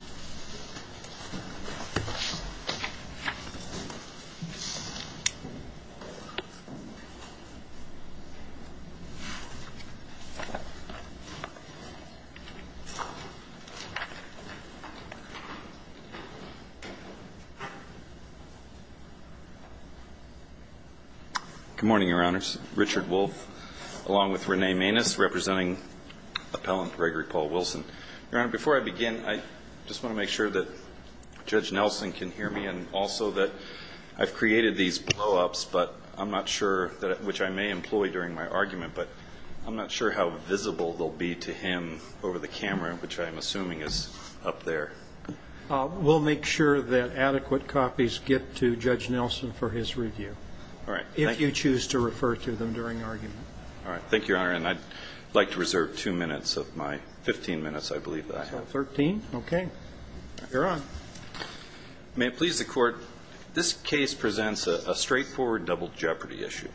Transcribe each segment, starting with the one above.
Good morning, Your Honors. Richard Wolff, along with Renee Maness, representing Appellant Gregory Paul Wilson. Your Honor, before I begin, I just want to make sure that Judge Nelson can hear me and also that I've created these blow-ups, but I'm not sure that which I may employ during my argument, but I'm not sure how visible they'll be to him over the camera, which I'm assuming is up there. We'll make sure that adequate copies get to Judge Nelson for his review. All right. Thank you. If you choose to refer to them during argument. All right. Thank you, Your Honor. And I'd like to reserve two minutes of my 15 minutes, I believe, that I have. Thirteen? Okay. You're on. May it please the Court, this case presents a straightforward double jeopardy issue.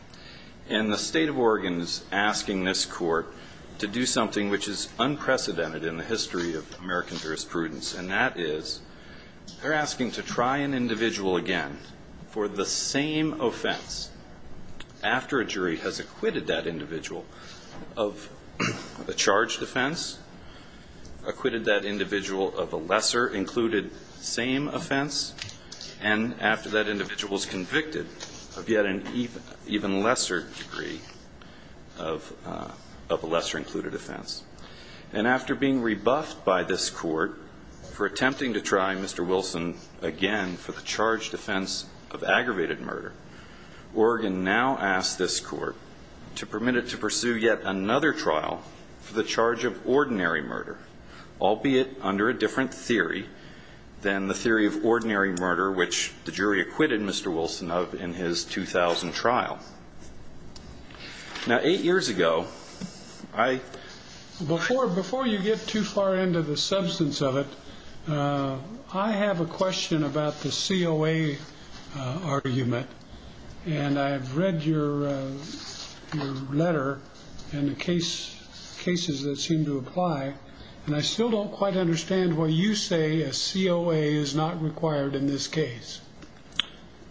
And the State of Oregon is asking this Court to do something which is unprecedented in the history of American jurisprudence, and that is they're asking to try an individual again for the same offense after a jury has acquitted that individual of a charged offense, acquitted that individual of a lesser included same offense, and after that individual is convicted of yet an even lesser degree of a lesser included offense. And after being rebuffed by this Court for attempting to try Mr. Wilson again for the charged offense of aggravated murder, Oregon now asks this Court to permit it to pursue yet another trial for the charge of ordinary murder, albeit under a different theory than the theory of ordinary murder, which the jury acquitted Mr. Wilson of in his 2000 trial. Now, eight years ago, I ---- Before you get too far into the substance of it, I have a question about the COA's argument, and I have read your letter and the cases that seem to apply, and I still don't quite understand why you say a COA is not required in this case.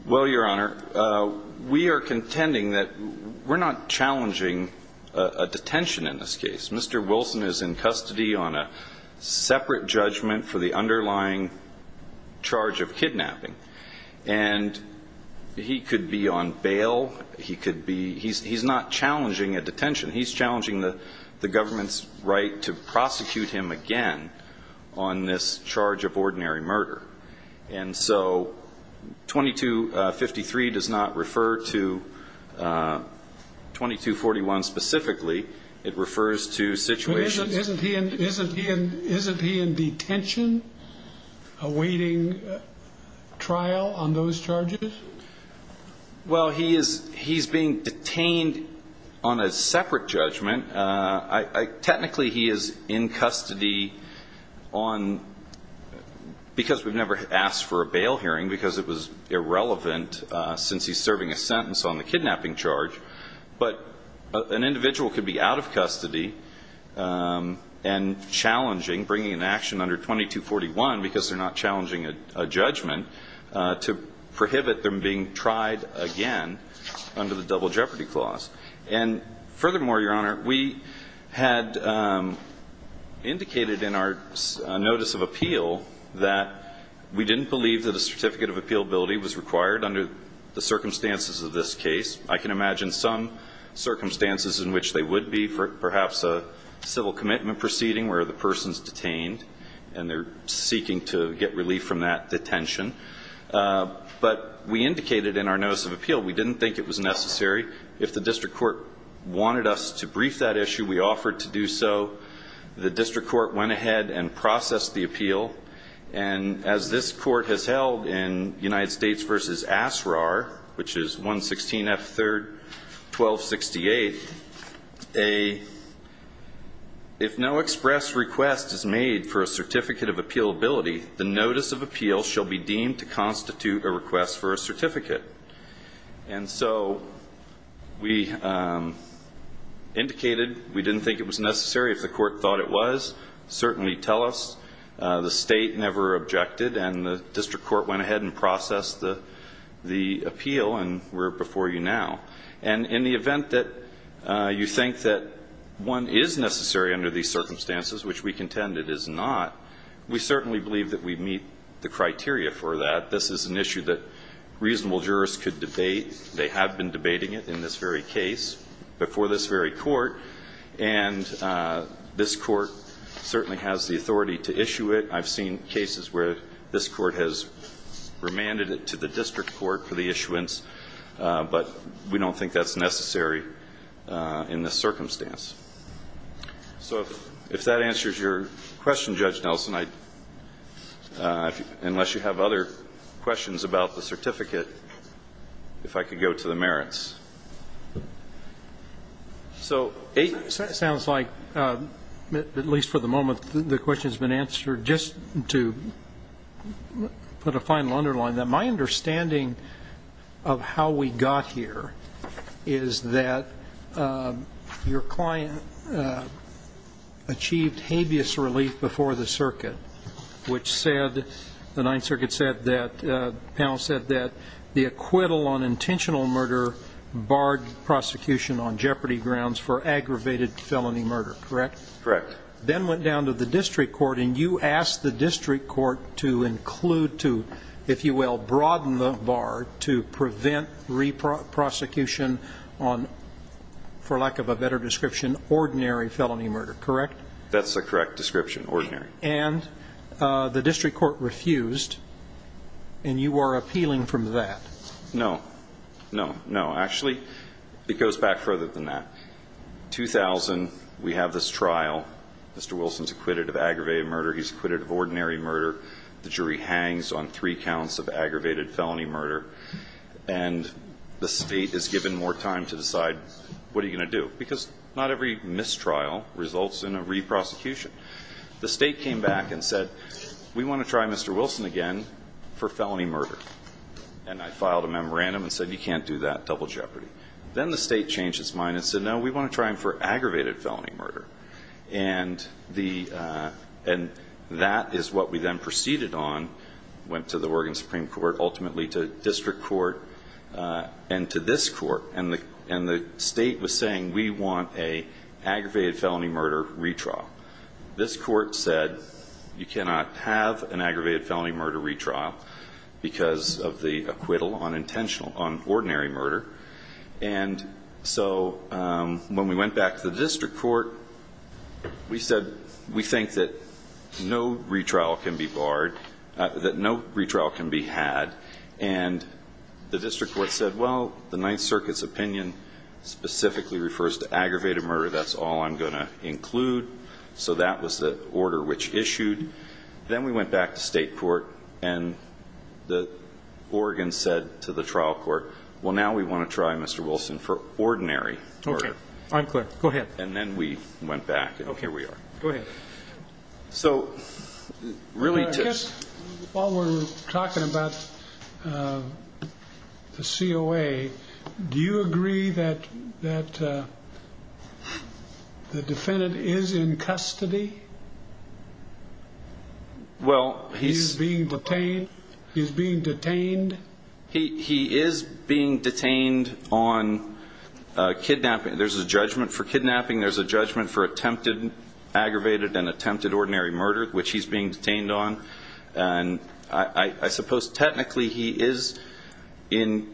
Well, Your Honor, we are contending that we're not challenging a detention in this case. Mr. Wilson is in custody on a separate judgment for the underlying charge of kidnapping, and he could be on bail. He could be ---- he's not challenging a detention. He's challenging the government's right to prosecute him again on this charge of ordinary murder. And so 2253 does not refer to 2241 specifically. It refers to situations ---- Isn't he in detention awaiting trial on those charges? Well, he is being detained on a separate judgment. Technically, he is in custody on ---- because we've never asked for a bail hearing, because it was irrelevant since he's serving a sentence on the kidnapping charge. But an individual could be out of custody and challenging, bringing an action under 2241, because they're not challenging a judgment, to prohibit them being tried again under the double jeopardy clause. And furthermore, Your Honor, we had indicated in our notice of appeal that we didn't believe that a certificate of appealability was required under the circumstances of this case. I can imagine some circumstances in which they would be, perhaps a civil commitment proceeding where the person's detained and they're seeking to get relief from that detention. But we indicated in our notice of appeal we didn't think it was necessary. If the district court wanted us to brief that issue, we offered to do so. The district court went ahead and processed the appeal. And as this court has held in United States v. Asrar, which is 116 F. 3rd, 1268, if no express request is made for a certificate of appealability, the notice of appeal shall be deemed to constitute a request for a certificate. And so we indicated we didn't think it was necessary. If the court thought it was, certainly tell us. The state never objected. And the district court went ahead and processed the appeal. And we're before you now. And in the event that you think that one is necessary under these circumstances, which we contend it is not, we certainly believe that we meet the criteria for that. This is an issue that reasonable jurists could debate. They have been debating it in this very case before this very court. And this court certainly has the authority to issue it. I've seen cases where this court has remanded it to the district court for the issuance. But we don't think that's necessary in this circumstance. So if that answers your question, Judge Nelson, unless you have other questions about the certificate, if I could go to the merits. So it sounds like, at least for the moment, the question has been answered. Just to put a final underline, my understanding of how we got here is that your client achieved habeas relief before the circuit, which said, the Ninth Circuit panel said that the acquittal on intentional murder barred prosecution on jeopardy grounds for aggravated felony murder, correct? Correct. Then went down to the district court, and you asked the district court to include, to, if you will, broaden the bar to prevent re-prosecution on, for lack of a better description, ordinary felony murder, correct? That's the correct description, ordinary. And the district court refused, and you are appealing from that. No, no, no. Actually, it goes back further than that. 2000, we have this trial. Mr. Wilson's acquitted of aggravated murder. He's acquitted of ordinary murder. The jury hangs on three counts of aggravated felony murder. And the State is given more time to decide, what are you going to do? Because not every mistrial results in a re-prosecution. The State came back and said, we want to try Mr. Wilson again for felony murder. And I filed a memorandum and said, you can't do that, double jeopardy. Then the State changed its mind and said, no, we want to try him for aggravated felony murder. And the, and that is what we then proceeded on, went to the Oregon Supreme Court, ultimately to district court, and to this court. And the, and the State was saying, we want a aggravated felony murder retrial. This court said, you cannot have an aggravated felony murder retrial because of the acquittal on intentional, on ordinary murder. And so, when we went back to the district court, we said, we think that no retrial can be barred, that no retrial can be had. And we said, we're going to have to the district court said, well, the Ninth Circuit's opinion specifically refers to aggravated murder, that's all I'm going to include. So that was the order which issued. Then we went back to State court, and the Oregon said to the trial court, well, now we want to try Mr. Wilson for ordinary murder. Okay, I'm clear. Go ahead. And then we went back, and here we are. Go ahead. So, really to this, while we're talking about the COA, do you agree that the defendant is in custody? Well, he's He's being detained? He's being detained? He is being detained on kidnapping. There's a judgment for kidnapping. There's a judgment for attempted, aggravated, and attempted ordinary murder, which he's being detained on. And I suppose technically he is in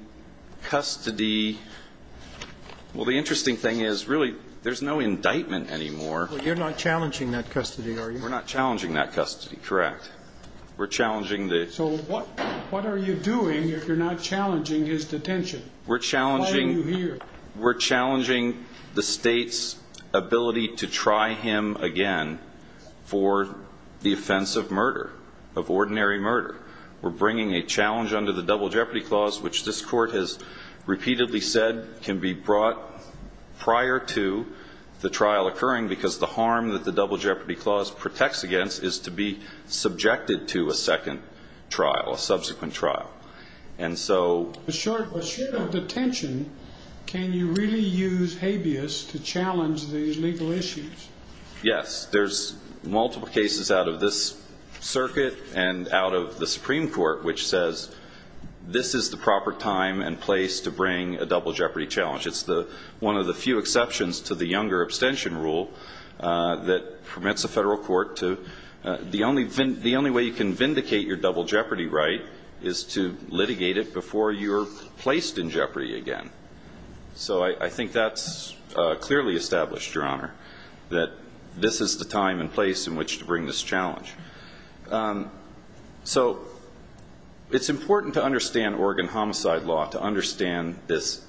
custody. Well, the interesting thing is, really, there's no indictment anymore. But you're not challenging that custody, are you? We're not challenging that custody, correct. We're challenging the So what are you doing if you're not challenging his detention? We're challenging Why are you here? We're challenging the State's ability to try him again for the offense of murder, of ordinary murder. We're bringing a challenge under the Double Jeopardy Clause, which this Court has repeatedly said can be brought prior to the trial occurring, because the harm that the Double Jeopardy Clause protects against is to be subjected to a second trial, a subsequent trial. And so a short of detention, can you really use habeas to challenge the legal issues? Yes. There's multiple cases out of this circuit and out of the Supreme Court which says this is the proper time and place to bring a Double Jeopardy challenge. It's one of the few exceptions to the Younger Abstention Rule that permits a federal court to – the only way you can vindicate your Double Jeopardy right is to litigate it before you're placed in jeopardy again. So I think that's clearly established, Your Honor, that this is the time and place in which to bring this challenge. So it's important to understand Oregon Homicide Law, to understand this,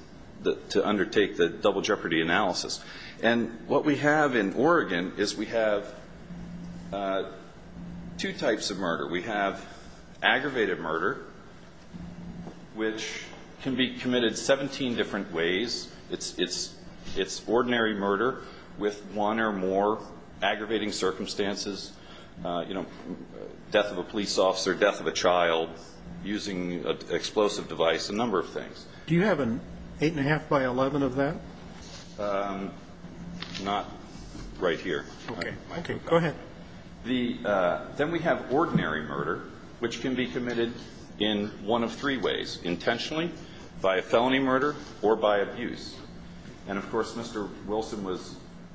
to undertake the Double Jeopardy analysis. And what we have in Oregon is we have two types of murder. We have aggravated murder, which can be committed 17 different ways. It's ordinary murder with one or more aggravating circumstances, you know, death of a police officer, death of a child, using an explosive device, a number of things. Do you have an 8 1⁄2 by 11 of that? Not right here. Okay. Go ahead. Then we have ordinary murder, which can be committed in one of three ways, intentionally, by a felony murder, or by abuse. And, of course, Mr. Wilson was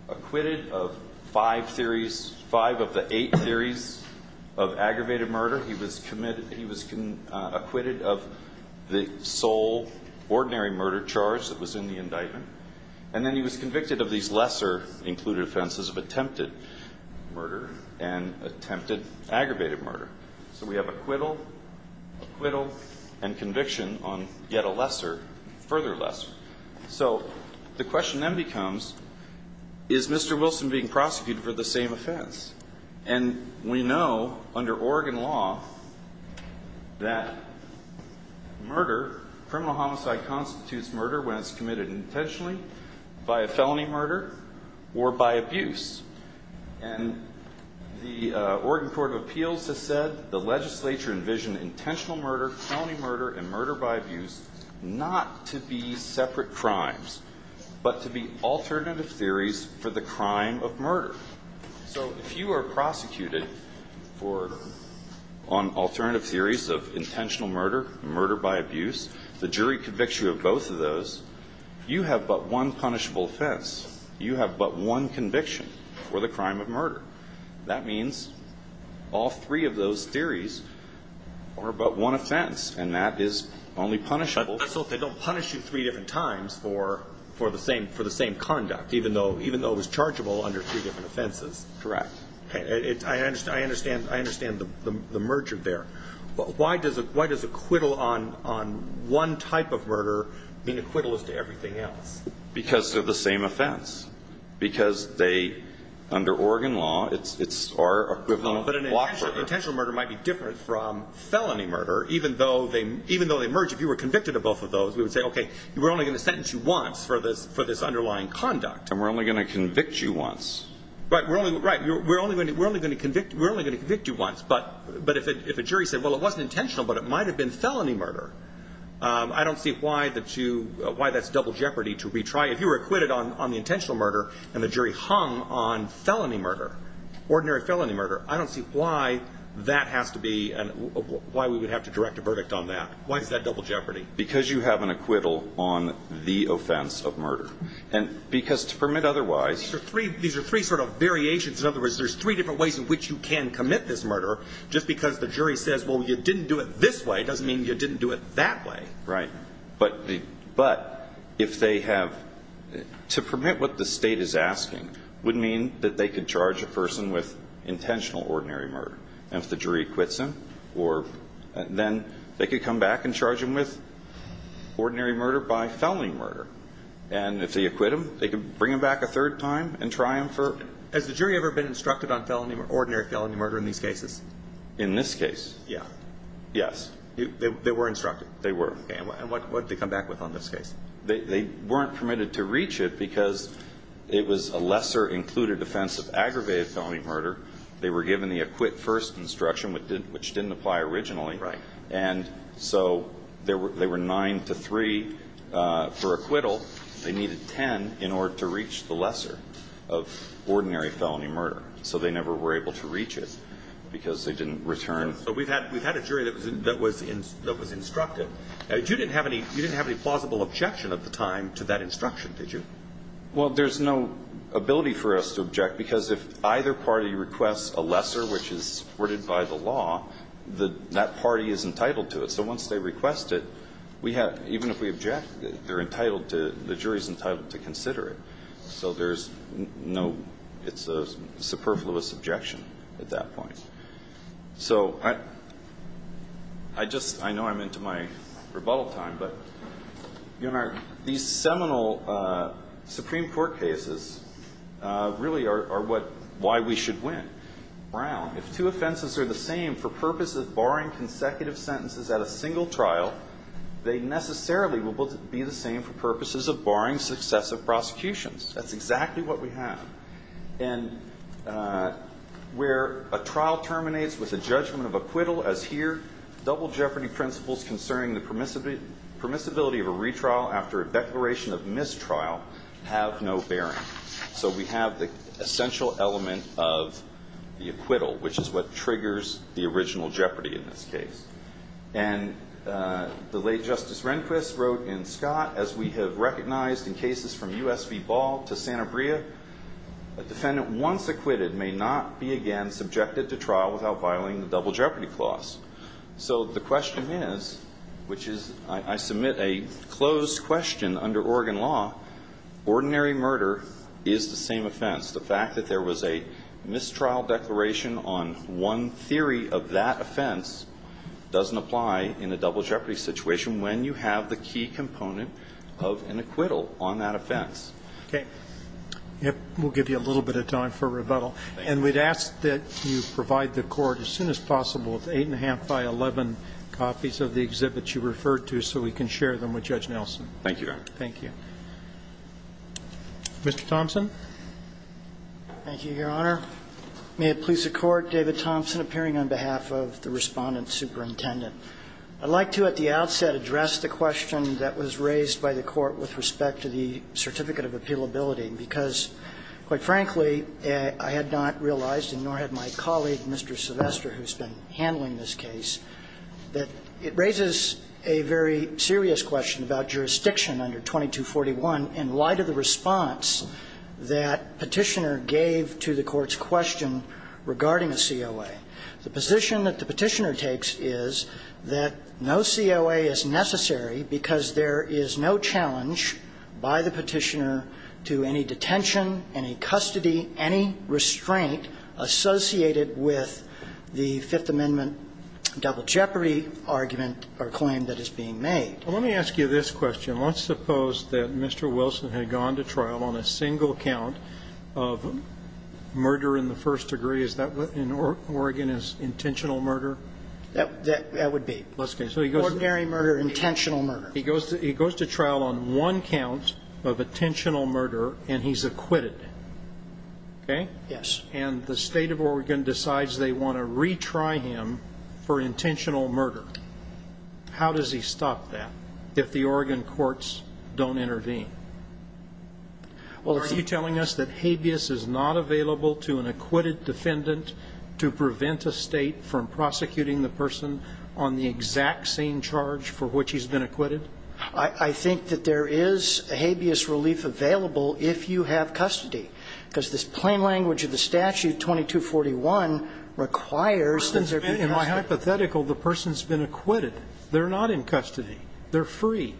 acquitted of five theories – five of the eight theories of aggravated murder. He was committed – he was acquitted of the sole ordinary murder charge that was in the indictment. And then he was convicted of these lesser included offenses of attempted murder and attempted aggravated murder. So we have acquittal, acquittal, and conviction on yet a lesser, further lesser. So the question then becomes, is Mr. Wilson being prosecuted for the same offense? And we know under Oregon law that murder, criminal homicide, constitutes murder when it's committed intentionally, by a felony murder, or by abuse. And the Oregon Court of Appeals has said the legislature envisioned intentional murder, felony murder, and murder by abuse not to be separate crimes, but to be alternative theories for the crime of murder. So if you are prosecuted for – on alternative theories of intentional murder, murder by abuse, the jury convicts you of both of those, you have but one punishable offense. You have but one conviction for the crime of murder. That means all three of those theories are but one offense, and that is only punishable. So they don't punish you three different times for the same conduct, even though it was chargeable under three different offenses? Correct. I understand the merger there. Why does acquittal on one type of murder mean acquittal as to everything else? Because they're the same offense. Because they, under Oregon law, it's our equivalent of block murder. But an intentional murder might be different from felony murder, even though they merge. If you were convicted of both of those, we would say, okay, we're only going to sentence you once for this underlying conduct. And we're only going to convict you once. Right. We're only going to convict you once. But if a jury said, well, it wasn't intentional, but it might have been felony murder, I don't see why that's double jeopardy to retry. If you were acquitted on the intentional murder and the jury hung on felony murder, ordinary felony murder, I don't see why that has to be – why we would have to direct a verdict on that. Why is that double jeopardy? Because you have an acquittal on the offense of murder. And because to permit otherwise – These are three sort of variations. In other words, there's three different ways in which you can commit this murder. Just because the jury says, well, you didn't do it this way, doesn't mean you didn't do it that way. Right. But if they have – to permit what the State is asking would mean that they could charge a person with intentional ordinary murder. And if the jury quits them, or – then they could come back and charge them with ordinary murder by felony murder. And if they acquit them, they could bring them back a third time and try them for – Has the jury ever been instructed on felony – ordinary felony murder in these cases? In this case? Yeah. Yes. They were instructed. They were. And what did they come back with on this case? They weren't permitted to reach it because it was a lesser-included offense of aggravated felony murder. They were given the acquit first instruction, which didn't apply originally. Right. And so they were 9 to 3 for acquittal. They needed 10 in order to reach the requirement of ordinary felony murder. So they never were able to reach it because they didn't return. So we've had – we've had a jury that was – that was instructed. You didn't have any – you didn't have any plausible objection at the time to that instruction, did you? Well, there's no ability for us to object because if either party requests a lesser, which is worded by the law, the – that party is entitled to it. So once they request it, we have – even if we object, they're entitled to – the jury is entitled to consider it. So there's no – it's a superfluous objection at that point. So I – I just – I know I'm into my rebuttal time, but, you know, these seminal Supreme Court cases really are what – why we should win. Brown, if two offenses are the same for purposes barring consecutive sentences at a single trial, they necessarily will both be the same for purposes of barring successive prosecutions. That's exactly what we have. And where a trial terminates with a judgment of acquittal, as here, double jeopardy principles concerning the permissibility of a retrial after a declaration of mistrial have no bearing. So we have the essential element of the acquittal, which is what triggers the original And the late Justice Rehnquist wrote in Scott, as we have recognized in cases from U.S. v. Ball to Santa Brea, a defendant once acquitted may not be again subjected to trial without violating the double jeopardy clause. So the question is, which is – I submit a closed question under Oregon law. Ordinary murder is the same doesn't apply in a double jeopardy situation when you have the key component of an acquittal on that offense. Okay. We'll give you a little bit of time for rebuttal. And we'd ask that you provide the Court as soon as possible with 8 1⁄2 by 11 copies of the exhibits you referred to so we can share them with Judge Nelson. Thank you, Your Honor. Thank you. Mr. Thompson. Thank you, Your Honor. May it please the Court, David Thompson, appearing on behalf of the Respondent Superintendent. I'd like to, at the outset, address the question that was raised by the Court with respect to the certificate of appealability, because, quite frankly, I had not realized, and nor had my colleague, Mr. Sylvester, who's been handling this case, that it raises a very serious question about jurisdiction under 2241 in light of the response that Petitioner gave to the Court's question regarding a COA. The position that the Petitioner takes is that no COA is necessary because there is no challenge by the Petitioner to any detention, any custody, any restraint associated with the Fifth Amendment double jeopardy argument or claim that is being made. Well, let me ask you this question. Let's suppose that Mr. Wilson had gone to trial on a single count of murder in the first degree. Is that what in Oregon is intentional murder? That would be. Ordinary murder, intentional murder. He goes to trial on one count of intentional murder, and he's acquitted. Okay? Yes. And the State of Oregon decides they want to retry him for intentional murder. How does he stop that if the Oregon courts don't intervene? Are you telling us that habeas is not available to an acquitted defendant to prevent a State from prosecuting the person on the exact same charge for which he's been acquitted? I think that there is habeas relief available if you have custody, because this plain language of the statute, 2241, requires that there be custody. In my hypothetical, the person's been acquitted. They're not in custody. They're free.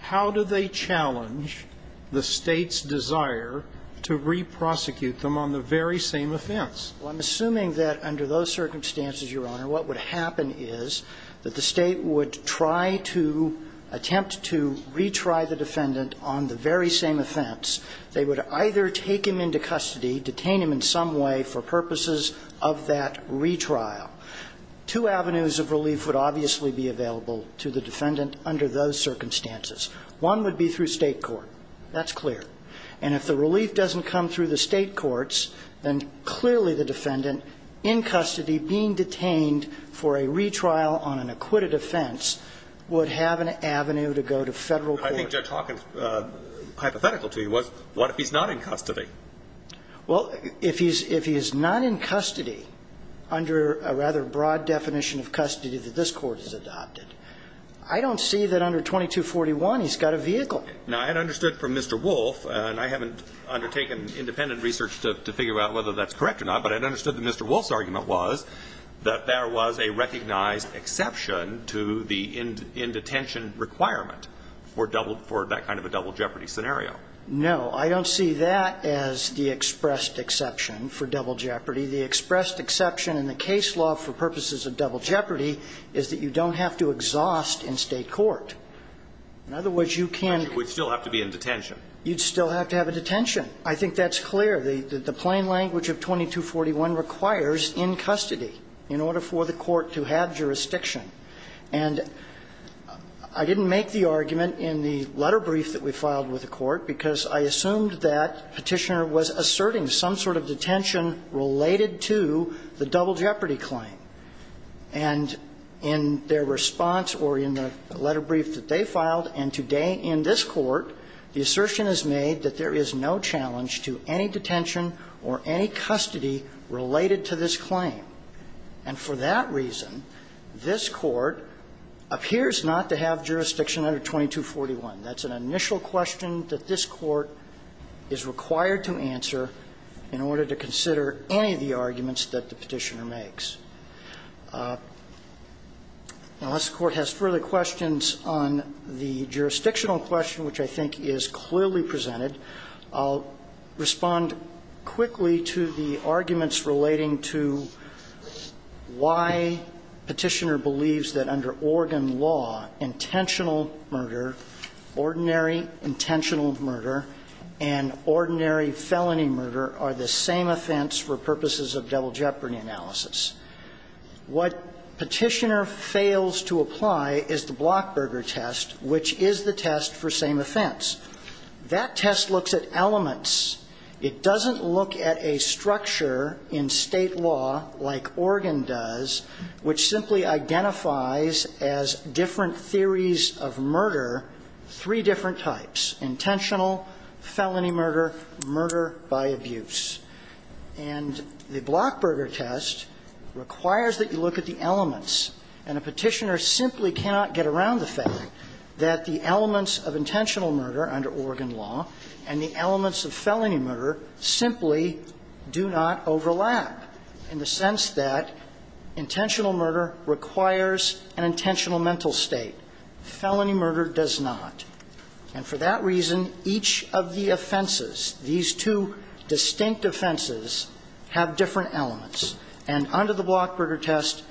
How do they challenge the State's desire to reprosecute them on the very same offense? Well, I'm assuming that under those circumstances, Your Honor, what would happen is that the State would try to attempt to retry the defendant on the very same offense. They would either take him into custody, detain him in some way for purposes of that retrial. Two avenues of relief would obviously be available to the defendant under those circumstances. One would be through State court. That's clear. And if the relief doesn't come through the State courts, then clearly the defendant in custody being detained for a retrial on an acquitted offense would have an avenue to go to Federal court. I think Judge Hawkins' hypothetical to you was what if he's not in custody? Well, if he's not in custody under a rather broad definition of custody that this Court has adopted, I don't see that under 2241 he's got a vehicle. Now, I had understood from Mr. Wolf, and I haven't undertaken independent research to figure out whether that's correct or not, but I'd understood that Mr. Wolf's argument was that there was a recognized exception to the in-detention requirement for that kind of a double jeopardy scenario. No. I don't see that as the expressed exception for double jeopardy. The expressed exception in the case law for purposes of double jeopardy is that you don't have to exhaust in State court. In other words, you can't be in detention. You'd still have to have a detention. I think that's clear. The plain language of 2241 requires in custody in order for the Court to have jurisdiction. And I didn't make the argument in the letter brief that we filed with the Court because I assumed that Petitioner was asserting some sort of detention related to the double jeopardy claim. And in their response or in the letter brief that they filed, and today in this Court, the assertion is made that there is no challenge to any detention or any custody related to this claim. And for that reason, this Court appears not to have jurisdiction under 2241. That's an initial question that this Court is required to answer in order to consider any of the arguments that the Petitioner makes. Unless the Court has further questions on the jurisdictional question, which I think is clearly presented, I'll respond quickly to the arguments relating to why Petitioner believes that under organ law, intentional murder, ordinary intentional murder and ordinary felony murder are the same offense for purposes of double jeopardy analysis. What Petitioner fails to apply is the Blockberger test, which is the test for same offense. That test looks at elements. It doesn't look at a structure in State law like Oregon does, which simply identifies as different theories of murder, three different types, intentional, felony murder, murder by abuse. And the Blockberger test requires that you look at the elements. And a Petitioner simply cannot get around the fact that the elements of intentional murder under Oregon law and the elements of felony murder simply do not overlap in the sense that intentional murder requires an intentional mental state. Felony murder does not. And for that reason, each of the offenses, these two distinct offenses, have different elements. And under the Blockberger test,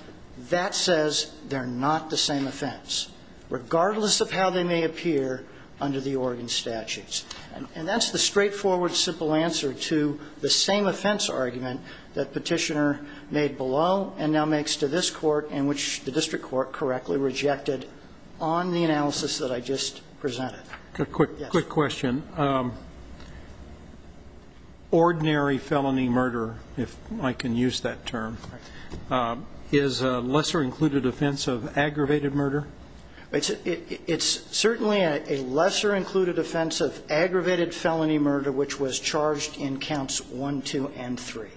that says they're not the same offense, regardless of how they may appear under the Oregon statutes. And that's the straightforward, simple answer to the same offense argument that Petitioner made below and now makes to this Court in which the district court correctly rejected on the analysis that I just presented. A quick question. Ordinary felony murder, if I can use that term, is a lesser included offense of aggravated murder? It's certainly a lesser included offense of aggravated felony murder, which was charged in counts 1, 2, and 3.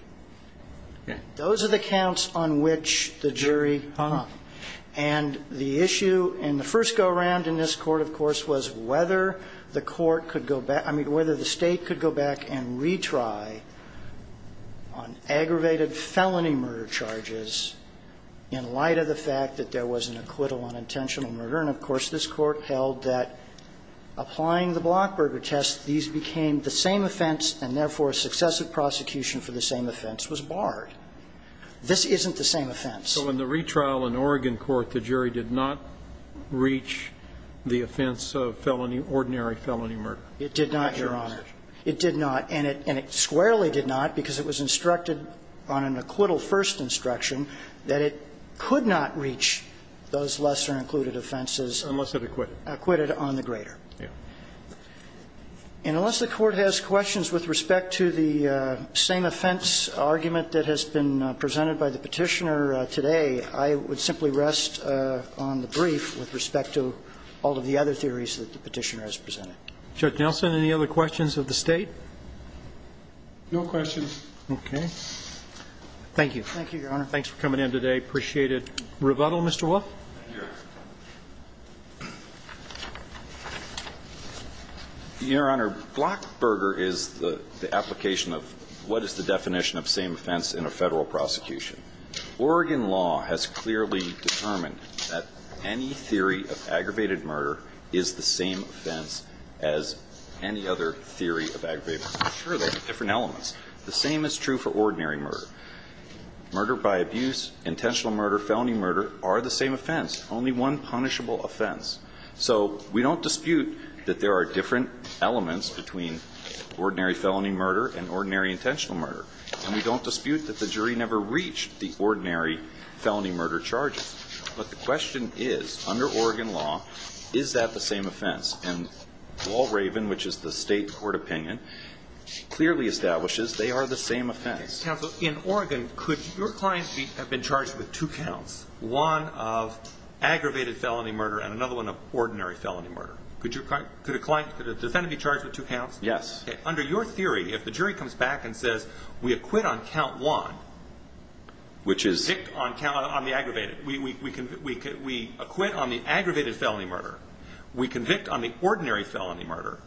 Those are the counts on which the jury hung. And the issue in the first go-around in this Court, of course, was whether the court could go back to the state could go back and retry on aggravated felony murder charges in light of the fact that there was an acquittal on intentional murder. And, of course, this Court held that applying the Blockberger test, these became the same offense and, therefore, successive prosecution for the same offense was barred. This isn't the same offense. So in the retrial in Oregon Court, the jury did not reach the offense of felony ordinary felony murder? It did not, Your Honor. It did not. And it squarely did not because it was instructed on an acquittal first instruction that it could not reach those lesser included offenses. Unless it acquitted. Acquitted on the greater. Yes. And unless the Court has questions with respect to the same offense argument that has been presented by the Petitioner today, I would simply rest on the brief with respect to all of the other theories that the Petitioner has presented. Judge Nelson, any other questions of the State? No questions. Okay. Thank you. Thank you, Your Honor. Thanks for coming in today. Appreciate it. Rebuttal, Mr. Wolf? Yes. Your Honor, Blockberger is the application of what is the definition of same offense in a Federal prosecution. Oregon law has clearly determined that any theory of aggravated murder is the same offense as any other theory of aggravated murder. Sure, there are different elements. The same is true for ordinary murder. Murder by abuse, intentional murder, felony murder are the same offense. Only one punishable offense. So we don't dispute that there are different elements between ordinary felony murder and ordinary intentional murder. And we don't dispute that the jury never reached the ordinary felony murder charges. But the question is, under Oregon law, is that the same offense? And Wall Raven, which is the State court opinion, clearly establishes they are the same offense. Counsel, in Oregon, could your client have been charged with two counts? One of aggravated felony murder and another one of ordinary felony murder. Could a client, could a defendant be charged with two counts? Yes. Under your theory, if the jury comes back and says, we acquit on count one. Which is? We acquit on the aggravated felony murder. We convict on the ordinary felony murder.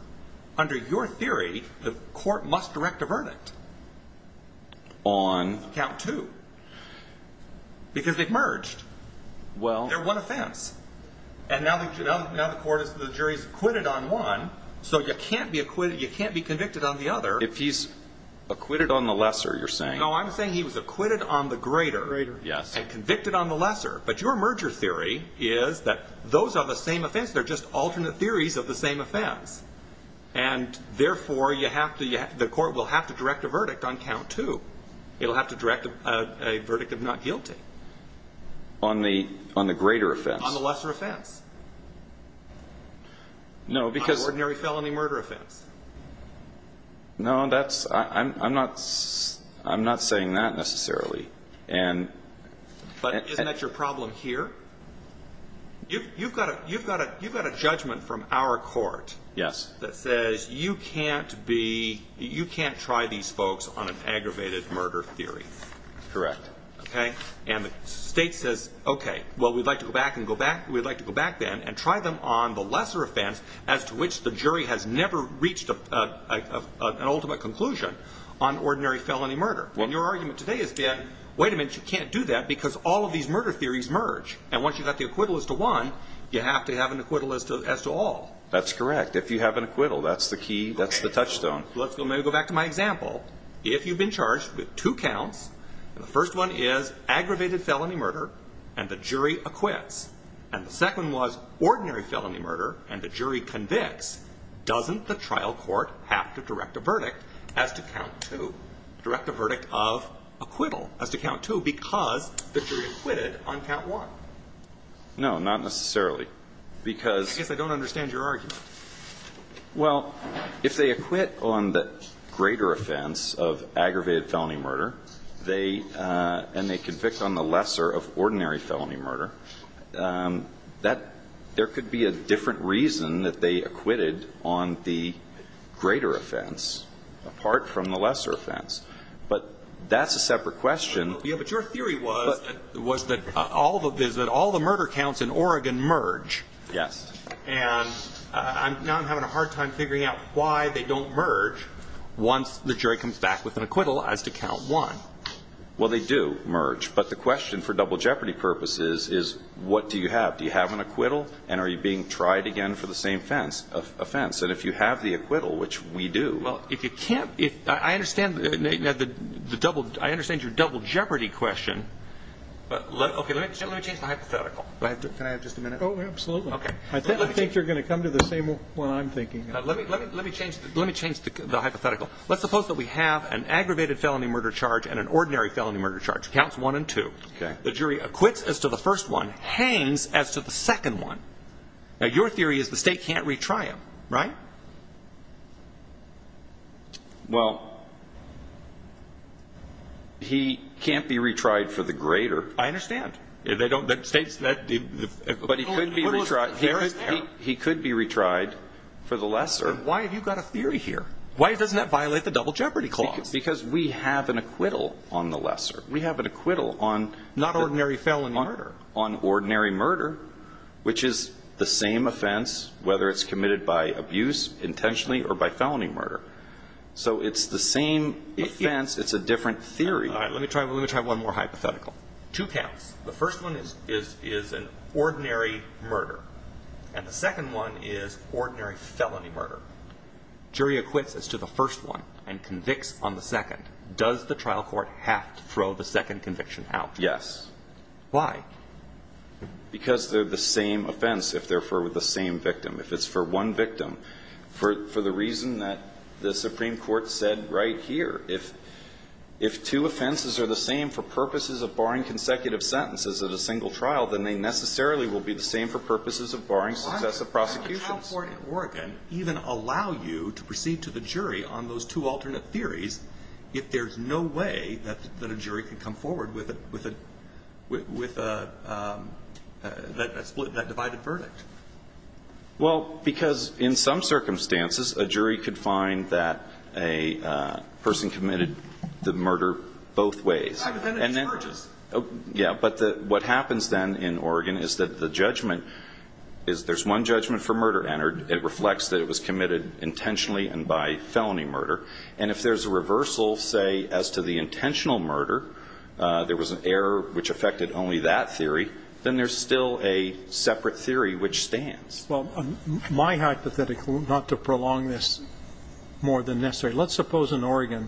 Under your theory, the court must direct a verdict. On? Count two. Because they've merged. Well. They're one offense. And now the court is, the jury's acquitted on one. So you can't be acquitted, you can't be convicted on the other. If he's acquitted on the lesser, you're saying? No, I'm saying he was acquitted on the greater. Greater, yes. And convicted on the lesser. But your merger theory is that those are the same offense. They're just alternate theories of the same offense. And therefore, you have to, the court will have to direct a verdict on count two. It'll have to direct a verdict of not guilty. On the greater offense? On the lesser offense. No, because. On the ordinary felony murder offense. No, that's, I'm not saying that necessarily. But isn't that your problem here? You've got a judgment from our court. Yes. That says you can't be, you can't try these folks on an aggravated murder theory. Correct. Okay. And the state says, okay, well we'd like to go back and go back, we'd like to go back then and try them on the lesser offense. As to which the jury has never reached an ultimate conclusion on ordinary felony murder. And your argument today is that, wait a minute, you can't do that because all of these murder theories merge. And once you've got the acquittal as to one, you have to have an acquittal as to all. That's correct. If you have an acquittal, that's the key, that's the touchstone. Let's go back to my example. If you've been charged with two counts, the first one is aggravated felony murder and the jury acquits. And the second was ordinary felony murder and the jury convicts. Doesn't the trial court have to direct a verdict as to count two? Direct a verdict of acquittal as to count two because the jury acquitted on count one. No, not necessarily. Because. I guess I don't understand your argument. Well, if they acquit on the greater offense of aggravated felony murder, and they convict on the lesser of ordinary felony murder, there could be a different reason that they acquitted on the greater offense apart from the lesser offense. But that's a separate question. But your theory was that all the murder counts in Oregon merge. Yes. And now I'm having a hard time figuring out why they don't merge once the jury comes back with an acquittal as to count one. Well, they do merge. But the question for double jeopardy purposes is what do you have? Do you have an acquittal? And are you being tried again for the same offense? And if you have the acquittal, which we do. Well, if you can't. I understand the double. I understand your double jeopardy question. But let me change my hypothetical. Can I have just a minute? Oh, absolutely. I think you're going to come to the same one I'm thinking of. Let me change the hypothetical. Let's suppose that we have an aggravated felony murder charge and an ordinary felony murder charge. Counts one and two. Okay. The jury acquits as to the first one, hangs as to the second one. Now, your theory is the state can't retry him. Right? Well, he can't be retried for the greater. I understand. But he could be retried for the lesser. Why have you got a theory here? Why doesn't that violate the double jeopardy clause? Because we have an acquittal on the lesser. We have an acquittal on ordinary murder, which is the same offense, whether it's committed by abuse intentionally or by felony murder. So it's the same offense. It's a different theory. Let me try one more hypothetical. Two counts. The first one is an ordinary murder. And the second one is ordinary felony murder. Jury acquits as to the first one and convicts on the second. Does the trial court have to throw the second conviction out? Yes. Why? Because they're the same offense if they're for the same victim. If it's for one victim, for the reason that the Supreme Court said right here. If two offenses are the same for purposes of barring consecutive sentences at a single trial, then they necessarily will be the same for purposes of barring successive prosecutions. Why would a trial court in Oregon even allow you to proceed to the jury on those two alternate theories if there's no way that a jury can come forward with that divided verdict? Well, because in some circumstances, a jury could find that a person committed the murder both ways. But then it emerges. Yeah. But what happens then in Oregon is that the judgment is there's one judgment for murder entered. It reflects that it was committed intentionally and by felony murder. And if there's a reversal, say, as to the intentional murder, there was an error which affected only that theory, then there's still a separate theory which stands. Well, my hypothetical, not to prolong this more than necessary, let's suppose in Oregon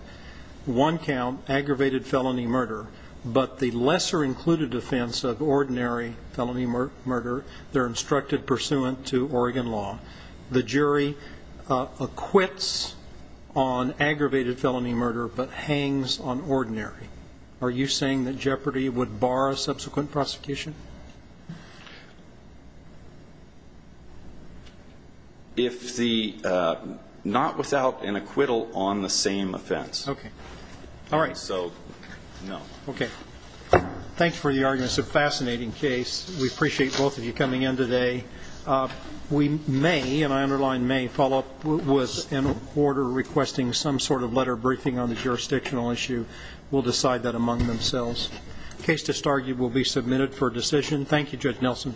one count, aggravated felony murder, but the lesser included offense of ordinary felony murder, they're instructed pursuant to Oregon law. The jury acquits on aggravated felony murder but hangs on ordinary. Are you saying that Jeopardy would bar a subsequent prosecution? If the not without an acquittal on the same offense. Okay. All right. So, no. Okay. Thanks for the argument. It's a fascinating case. We appreciate both of you coming in today. We may, and I underline may, follow up with an order requesting some sort of letter briefing on the jurisdictional issue. We'll decide that among themselves. Case to start will be submitted for decision. Thank you, Judge Nelson.